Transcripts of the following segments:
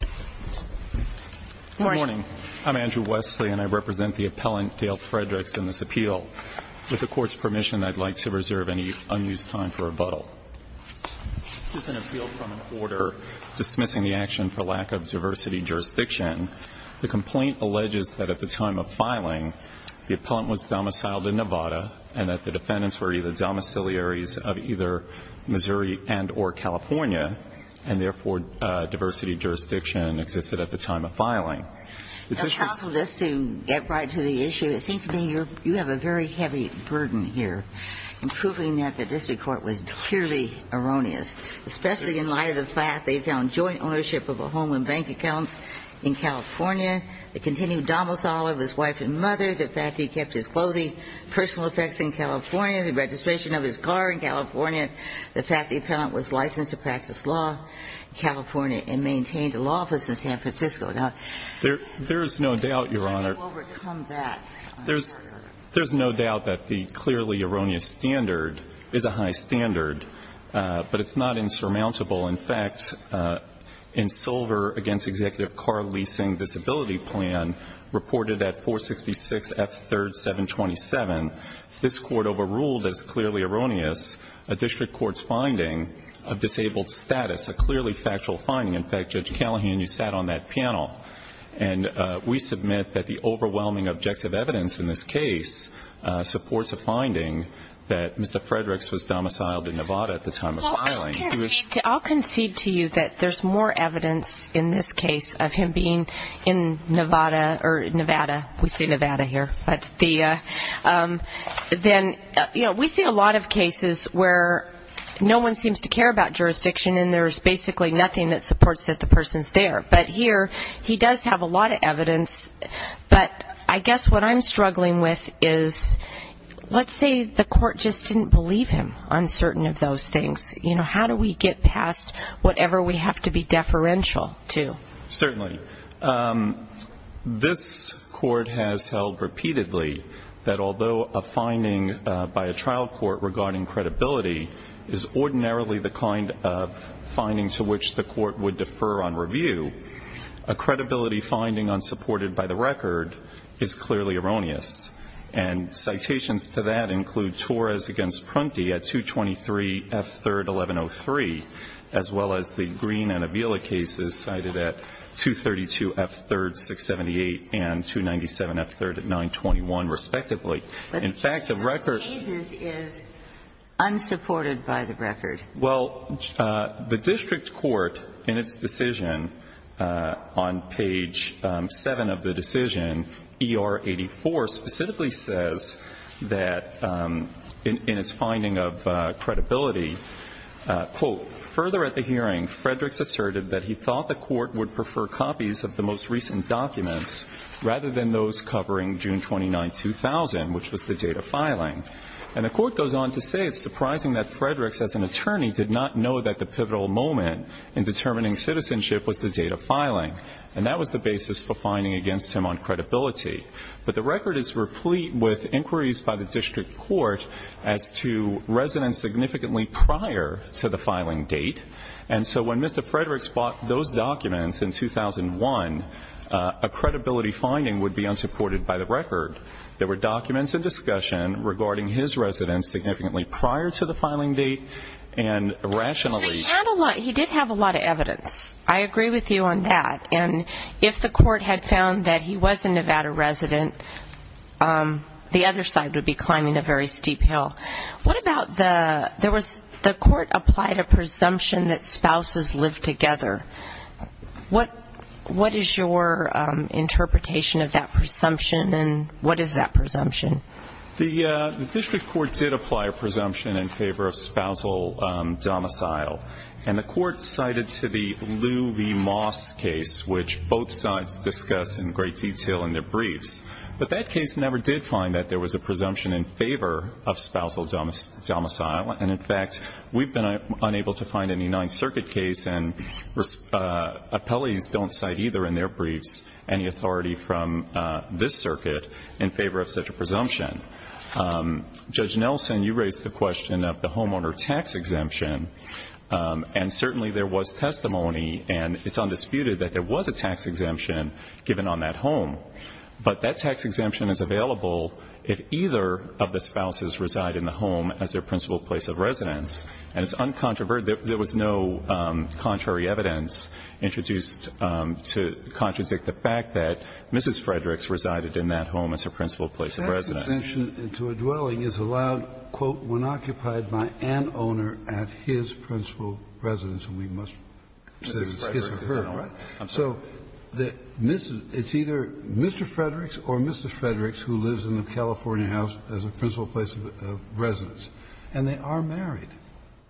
Good morning. I'm Andrew Wesley, and I represent the appellant Dale Fredericks in this appeal. With the Court's permission, I'd like to reserve any unused time for rebuttal. This is an appeal from an order dismissing the action for lack of diversity jurisdiction. The complaint alleges that at the time of filing, the appellant was domiciled in Nevada and that the defendants were either domiciliaries of either Missouri and or California, and therefore, diversity jurisdiction existed at the time of filing. It's possible just to get right to the issue. It seems to me you have a very heavy burden here in proving that the district court was purely erroneous, especially in light of the fact they found joint ownership of a home and bank accounts in California, the continued domicile of his wife and mother, the fact he kept his clothing, personal effects in California, the registration of his car in California, the fact the appellant was licensed to practice law in California and maintained a law office in San Francisco. Now, there's no doubt, Your Honor. How do you overcome that? There's no doubt that the clearly erroneous standard is a high standard, but it's not insurmountable. In fact, in Silver v. Executive Car Leasing Disability Plan reported at 466 F. 3rd, 727, this Court overruled as clearly erroneous a district court's finding of disabled status, a clearly factual finding. In fact, Judge Callahan, you sat on that panel. And we submit that the overwhelming objective evidence in this case supports a finding that Mr. Fredericks was domiciled in Nevada at the time of filing. I'll concede to you that there's more evidence in this case of him being in Nevada or Nevada. We say Nevada here. Then, you know, we see a lot of cases where no one seems to care about jurisdiction and there's basically nothing that supports that the person's there. But here, he does have a lot of evidence. But I guess what I'm struggling with is let's say the court just didn't believe him on certain of those things. You know, how do we get past whatever we have to be deferential to? Certainly. This Court has held repeatedly that although a finding by a trial court regarding credibility is ordinarily the kind of finding to which the court would defer on review, a credibility finding unsupported by the record is clearly erroneous. And citations to that include Torres v. Prunty at 223 F 3rd, 1103, as well as the Green and Avila cases cited at 232 F 3rd, 678, and 297 F 3rd at 921, respectively. In fact, the record ---- But those cases is unsupported by the record. Well, the district court in its decision on page 7 of the decision, ER 84, specifically says that in its finding of credibility, quote, Further at the hearing, Fredericks asserted that he thought the court would prefer copies of the most recent documents rather than those covering June 29, 2000, which was the date of filing. And the court goes on to say it's surprising that Fredericks, as an attorney, did not know that the pivotal moment in determining citizenship was the date of filing. And that was the basis for finding against him on credibility. But the record is replete with inquiries by the district court as to residents significantly prior to the filing date. And so when Mr. Fredericks bought those documents in 2001, a credibility finding would be unsupported by the record. There were documents in discussion regarding his residence significantly prior to the filing date and rationally ---- He did have a lot of evidence. I agree with you on that. And if the court had found that he was a Nevada resident, the other side would be climbing a very steep hill. What about the ---- The court applied a presumption that spouses lived together. What is your interpretation of that presumption, and what is that presumption? The district court did apply a presumption in favor of spousal domicile. And the court cited to the Lew v. Moss case, which both sides discussed in great detail in their briefs. But that case never did find that there was a presumption in favor of spousal domicile. And, in fact, we've been unable to find any Ninth Circuit case, and appellees don't cite either in their briefs any authority from this circuit in favor of such a presumption. Judge Nelson, you raised the question of the homeowner tax exemption. And certainly there was testimony, and it's undisputed that there was a tax exemption given on that home. But that tax exemption is available if either of the spouses reside in the home as their principal place of residence. And it's uncontroverted. There was no contrary evidence introduced to contradict the fact that Mrs. Fredericks The tax exemption to a dwelling is allowed, quote, when occupied by an owner at his principal residence. And we must say it's his or her, right? So it's either Mr. Fredericks or Mrs. Fredericks who lives in the California house as a principal place of residence. And they are married,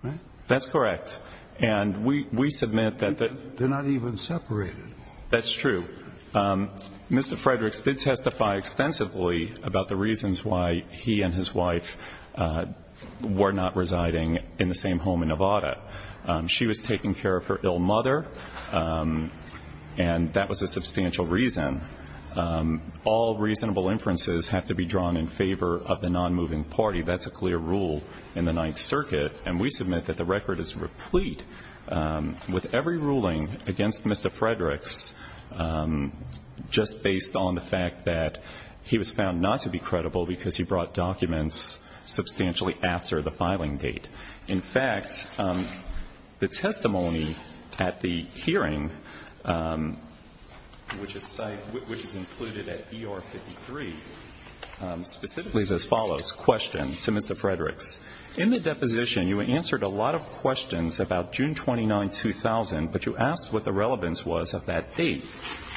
right? That's correct. And we submit that the they're not even separated. That's true. Mr. Fredericks did testify extensively about the reasons why he and his wife were not residing in the same home in Nevada. She was taking care of her ill mother, and that was a substantial reason. All reasonable inferences have to be drawn in favor of the nonmoving party. That's a clear rule in the Ninth Circuit. And we submit that the record is replete with every ruling against Mr. Fredericks just based on the fact that he was found not to be credible because he brought documents substantially after the filing date. In fact, the testimony at the hearing, which is included at ER 53, specifically is as follows. In the deposition, you answered a lot of questions about June 29, 2000, but you asked what the relevance was of that date.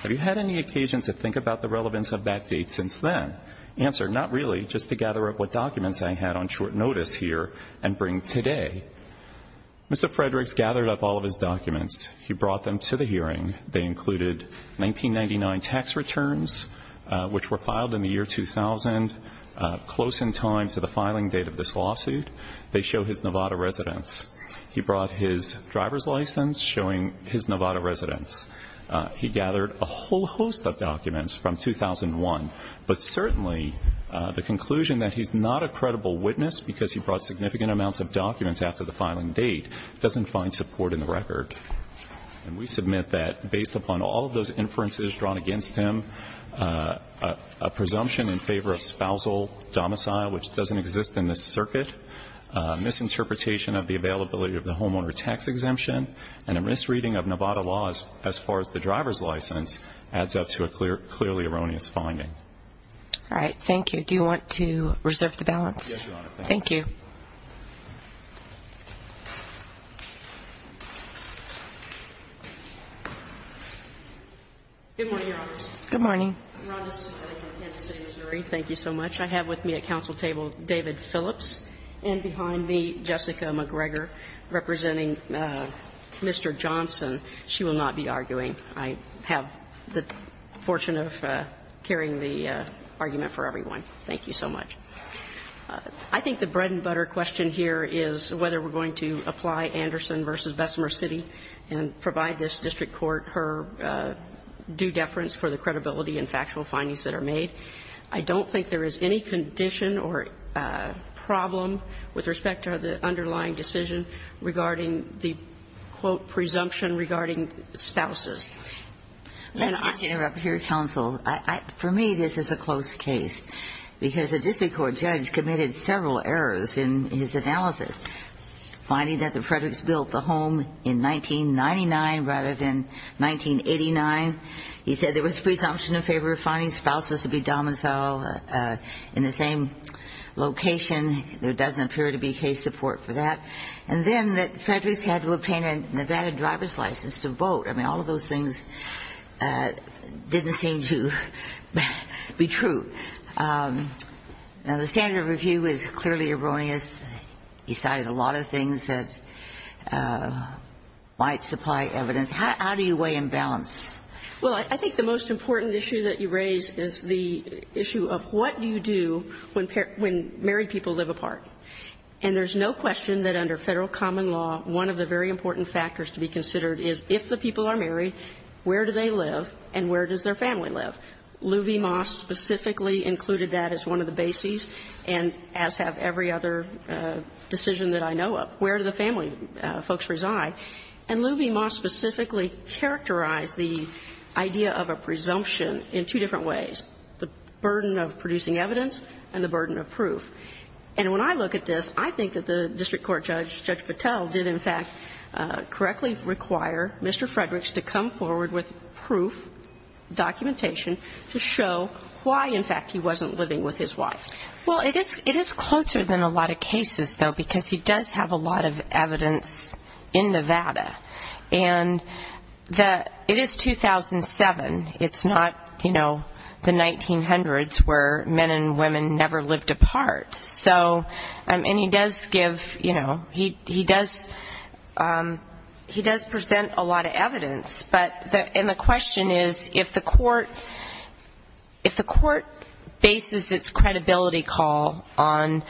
Have you had any occasion to think about the relevance of that date since then? Answer, not really, just to gather up what documents I had on short notice here and bring today. Mr. Fredericks gathered up all of his documents. He brought them to the hearing. They included 1999 tax returns, which were filed in the year 2000, close in time to the filing date of this lawsuit. They show his Nevada residence. He brought his driver's license, showing his Nevada residence. He gathered a whole host of documents from 2001, but certainly the conclusion that he's not a credible witness because he brought significant amounts of documents after the filing date doesn't find support in the record. And we submit that based upon all of those inferences drawn against him, a presumption in favor of spousal domicile, which doesn't exist in this circuit, misinterpretation of the availability of the homeowner tax exemption, and a misreading of Nevada law as far as the driver's license adds up to a clearly erroneous finding. All right. Thank you. Do you want to reserve the balance? Yes, Your Honor. Thank you. Good morning, Your Honors. Good morning. I'm Rhonda Smith. I'm with Kansas City Missouri. Thank you so much. I have with me at council table David Phillips and behind me Jessica McGregor representing Mr. Johnson. She will not be arguing. I have the fortune of carrying the argument for everyone. Thank you so much. I think the bread and butter question here is whether we're going to apply Anderson v. Bessemer City and provide this district court her due deference for the credibility and factual findings that are made. I don't think there is any condition or problem with respect to the underlying decision regarding the, quote, presumption regarding spouses. Let me just interrupt here, counsel. For me, this is a close case because the district court judge committed several errors in his analysis, finding that the Frederick's built the home in 1999 rather than 1989. He said there was presumption in favor of finding spouses to be domiciled in the same location. There doesn't appear to be case support for that. And then that Frederick's had to obtain a Nevada driver's license to vote. I mean, all of those things didn't seem to be true. Now, the standard of review is clearly erroneous. He cited a lot of things that might supply evidence. How do you weigh and balance? Well, I think the most important issue that you raise is the issue of what do you do when married people live apart. And there is no question that under Federal common law, one of the very important factors to be considered is if the people are married, where do they live and where does their family live. Luby Moss specifically included that as one of the bases, and as have every other decision that I know of. Where do the family folks reside? And Luby Moss specifically characterized the idea of a presumption in two different ways, the burden of producing evidence and the burden of proof. And when I look at this, I think that the district court judge, Judge Patel, did, in fact, correctly require Mr. Frederick's to come forward with proof, documentation, to show why, in fact, he wasn't living with his wife. Well, it is closer than a lot of cases, though, because he does have a lot of evidence in Nevada. And it is 2007. It is not, you know, the 1900s where men and women never lived apart. And he does give, you know, he does present a lot of evidence. And the question is, if the court bases its credibility call on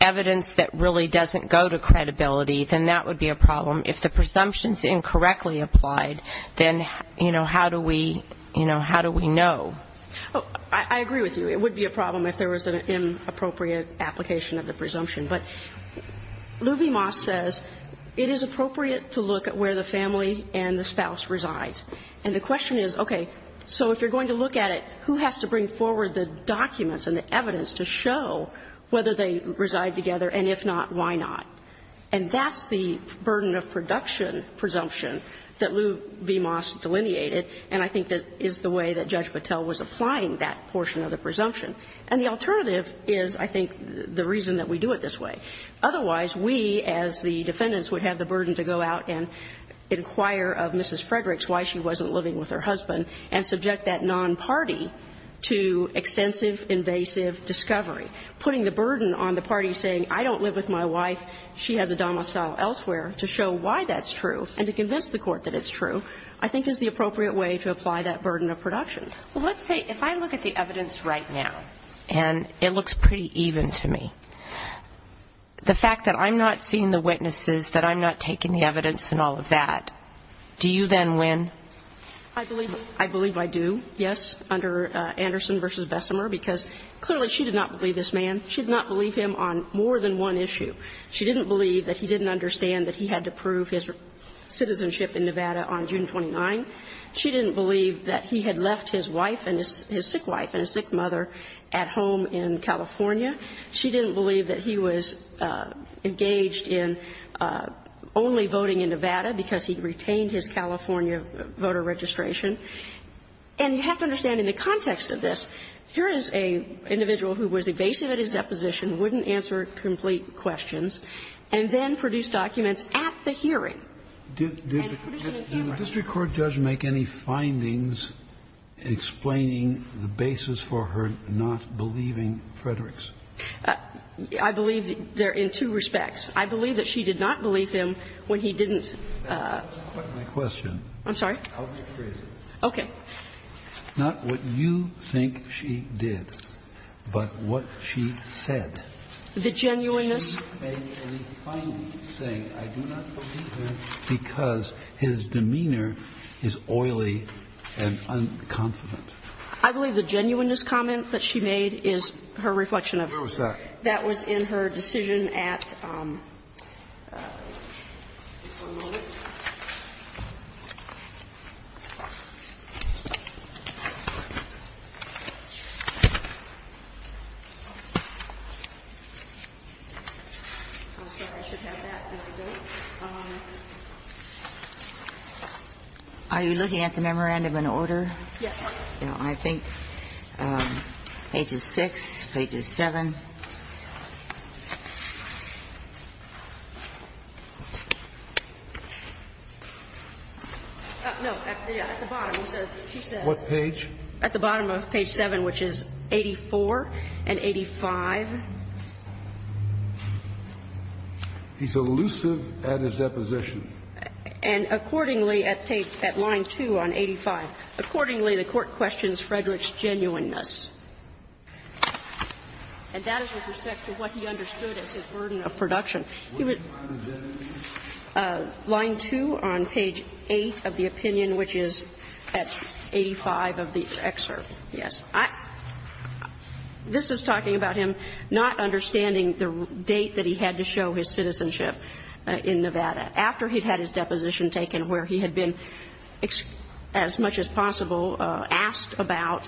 evidence that really doesn't go to credibility, then that would be a problem. If the presumption is incorrectly applied, then, you know, how do we, you know, how do we know? I agree with you. It would be a problem if there was an inappropriate application of the presumption. But Luby Moss says it is appropriate to look at where the family and the spouse resides. And the question is, okay, so if you're going to look at it, who has to bring forward the documents and the evidence to show whether they reside together, and if not, why not? And that's the burden of production presumption that Luby Moss delineated. And I think that is the way that Judge Patel was applying that portion of the presumption. And the alternative is, I think, the reason that we do it this way. Otherwise, we, as the defendants, would have the burden to go out and inquire of Mrs. Fredericks why she wasn't living with her husband and subject that non-party to extensive invasive discovery, putting the burden on the party saying, I don't live with my wife, she has a domicile elsewhere, to show why that's true and to convince the court that it's true, I think is the appropriate way to apply that burden of production. Well, let's say if I look at the evidence right now and it looks pretty even to me, the fact that I'm not seeing the witnesses, that I'm not taking the evidence and all of that, do you then win? I believe I do, yes, under Anderson v. Bessemer, because clearly she did not believe this man. She did not believe him on more than one issue. She didn't believe that he didn't understand that he had to prove his citizenship in Nevada on June 29. She didn't believe that he had left his wife and his sick wife and his sick mother at home in California. She didn't believe that he was engaged in only voting in Nevada because he retained his California voter registration. And you have to understand in the context of this, here is an individual who was evasive at his deposition, wouldn't answer complete questions, and then produced documents at the hearing. And producing a hearing. Did the district court judge make any findings explaining the basis for her not believing Fredericks? I believe they're in two respects. I believe that she did not believe him when he didn't. I'm sorry? I'll rephrase it. Okay. Not what you think she did, but what she said. The genuineness. Did she make any findings saying, I do not believe him because his demeanor is oily and unconfident? I believe the genuineness comment that she made is her reflection of it. Where was that? That was in her decision at. Are you looking at the memorandum in order? Yes. I think pages 6, pages 7. No. At the bottom of page 7, which is 84 and 85. He's elusive at his deposition. And accordingly, at line 2 on 85, accordingly, the court questions Fredericks' genuineness. And that is with respect to what he understood as his burden of production. He was. Line 2 on page 8 of the opinion, which is at 85 of the excerpt. Yes. This is talking about him not understanding the date that he had to show his citizenship in Nevada, after he had his deposition taken where he had been as much as possible asked about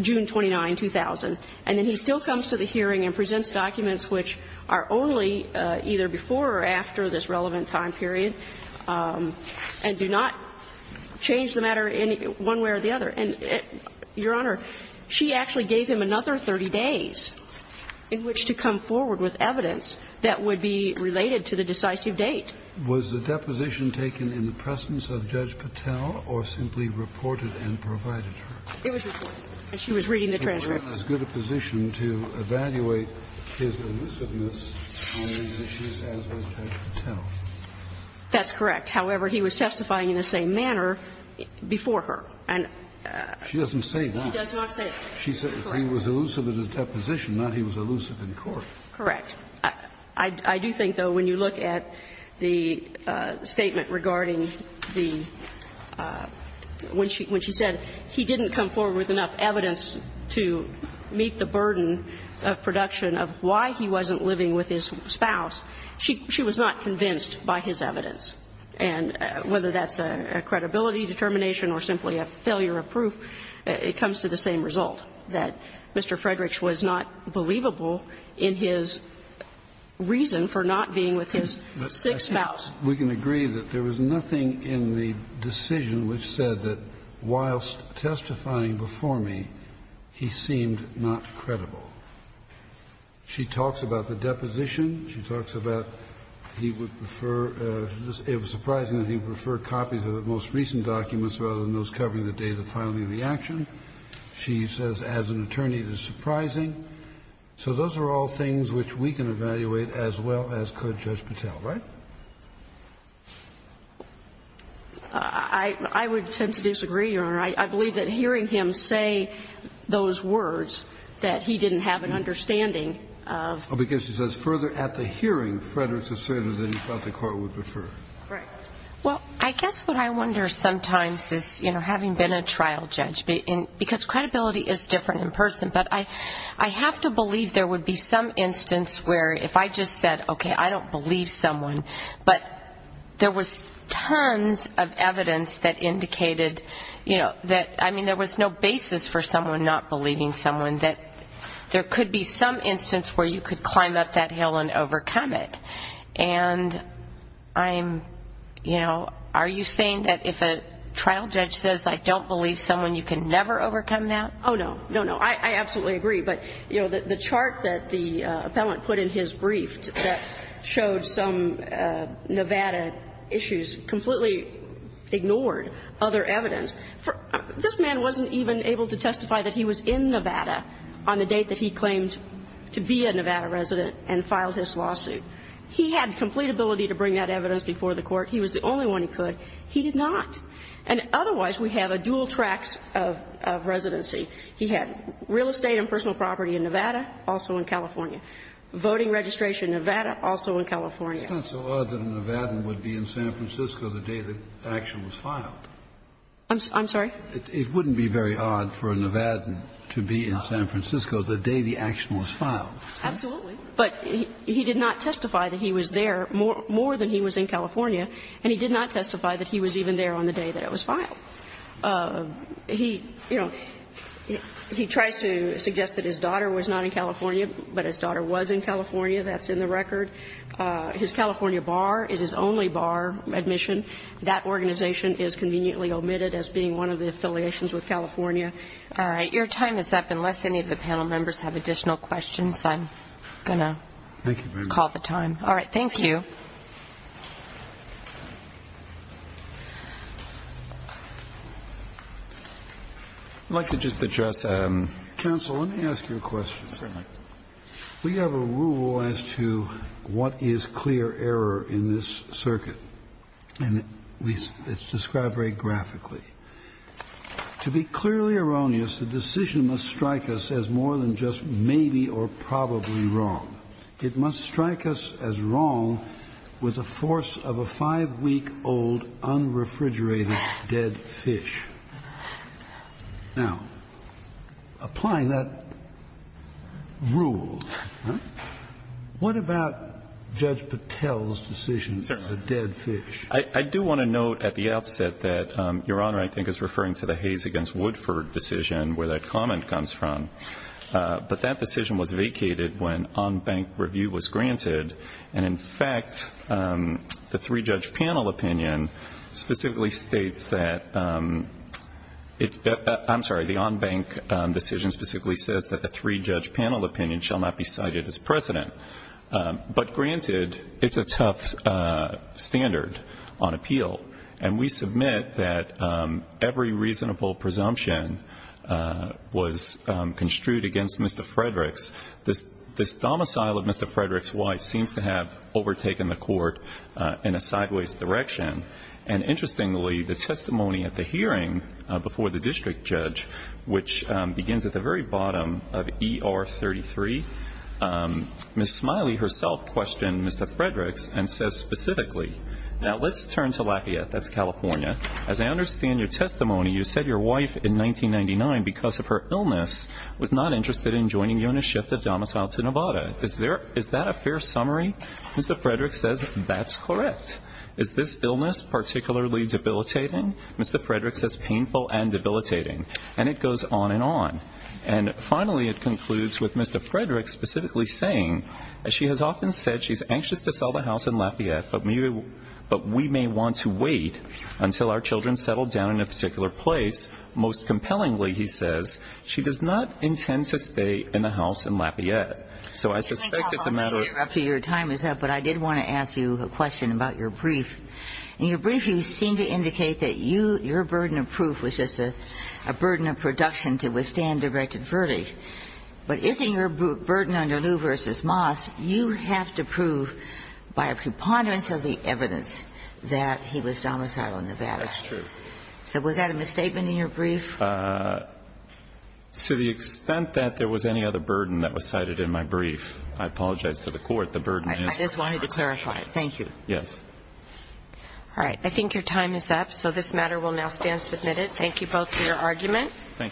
June 29, 2000. And then he still comes to the hearing and presents documents which are only either before or after this relevant time period and do not change the matter one way or the other. And, Your Honor, she actually gave him another 30 days in which to come forward with evidence that would be related to the decisive date. Was the deposition taken in the presence of Judge Patel or simply reported and provided to her? It was reported. And she was reading the transcript. So he was not in as good a position to evaluate his elusiveness on these issues as was Judge Patel. That's correct. However, he was testifying in the same manner before her. And she doesn't say why. She does not say why. She said he was elusive at his deposition, not he was elusive in court. Correct. I do think, though, when you look at the statement regarding the – when she said he didn't come forward with enough evidence to meet the burden of production of why he wasn't living with his spouse, she was not convinced by his evidence. And whether that's a credibility determination or simply a failure of proof, it comes to the same result, that Mr. Fredericks was not believable in his reason for not being with his sick spouse. We can agree that there was nothing in the decision which said that, whilst testifying before me, he seemed not credible. She talks about the deposition. She talks about he would prefer – it was surprising that he would prefer copies of the most recent documents rather than those covering the date of filing the action. She says, as an attorney, it is surprising. So those are all things which we can evaluate as well as could Judge Patel, right? I would tend to disagree, Your Honor. I believe that hearing him say those words, that he didn't have an understanding of – Because she says, further, at the hearing, Frederick's asserted that he thought the court would prefer. Right. Well, I guess what I wonder sometimes is, you know, having been a trial judge, because credibility is different in person, but I have to believe there would be some instance where if I just said, okay, I don't believe someone, but there was tons of evidence that indicated that – I mean, there was no basis for someone not believing someone, that there could be some instance where you could climb up that hill and overcome it. And I'm – you know, are you saying that if a trial judge says, I don't believe someone, you can never overcome that? Oh, no. No, no. I absolutely agree. But, you know, the chart that the appellant put in his brief that showed some Nevada issues completely ignored other evidence. This man wasn't even able to testify that he was in Nevada on the date that he claimed to be a Nevada resident and filed his lawsuit. He had complete ability to bring that evidence before the Court. He was the only one who could. He did not. And otherwise, we have a dual tracts of residency. He had real estate and personal property in Nevada, also in California. Voting registration in Nevada, also in California. It's not so odd that a Nevadan would be in San Francisco the day the action was filed. I'm sorry? It wouldn't be very odd for a Nevadan to be in San Francisco the day the action was filed. Absolutely. But he did not testify that he was there more than he was in California. And he did not testify that he was even there on the day that it was filed. He, you know, he tries to suggest that his daughter was not in California, but his daughter was in California. That's in the record. His California bar is his only bar admission. That organization is conveniently omitted as being one of the affiliations with California. All right. Your time is up, unless any of the panel members have additional questions. Unless I'm going to call the time. All right. Thank you. I'd like to just address. Counsel, let me ask you a question. We have a rule as to what is clear error in this circuit. And it's described very graphically. To be clearly erroneous, the decision must strike us as more than just maybe or probably wrong. It must strike us as wrong with a force of a five-week-old unrefrigerated dead fish. Now, applying that rule, what about Judge Patel's decision as a dead fish? I do want to note at the outset that Your Honor, I think, is referring to the Hayes against Woodford decision where that comment comes from. But that decision was vacated when on-bank review was granted. And in fact, the three-judge panel opinion specifically states that it, I'm sorry, the on-bank decision specifically says that the three-judge panel opinion shall not be cited as precedent. But granted, it's a tough standard. It's a tough standard on appeal. And we submit that every reasonable presumption was construed against Mr. Fredericks. This domicile of Mr. Fredericks' wife seems to have overtaken the court in a sideways direction. And interestingly, the testimony at the hearing before the district judge, which begins at the very bottom of ER 33, Ms. Smiley herself questioned Mr. Fredericks and says specifically. Now, let's turn to Lafayette. That's California. As I understand your testimony, you said your wife in 1999, because of her illness, was not interested in joining you in a shift of domicile to Nevada. Is that a fair summary? Mr. Fredericks says that's correct. Is this illness particularly debilitating? Mr. Fredericks says painful and debilitating. And it goes on and on. And finally, it concludes with Mr. Fredericks specifically saying that she has often said she's anxious to sell the house in Lafayette, but we may want to wait until our children settle down in a particular place. Most compellingly, he says, she does not intend to stay in the house in Lafayette. So I suspect it's a matter of ---- Let me interrupt you. Your time is up. But I did want to ask you a question about your brief. In your brief, you seem to indicate that your burden of proof was just a burden of production to withstand Directed Verdi. But isn't your burden under Lew v. Moss, you have to prove by a preponderance of the evidence that he was domiciled in Nevada? That's true. So was that a misstatement in your brief? To the extent that there was any other burden that was cited in my brief, I apologize to the Court. The burden is my burden. I just wanted to clarify it. Thank you. Yes. All right. I think your time is up. So this matter will now stand submitted. Thank you both for your argument. Thank you.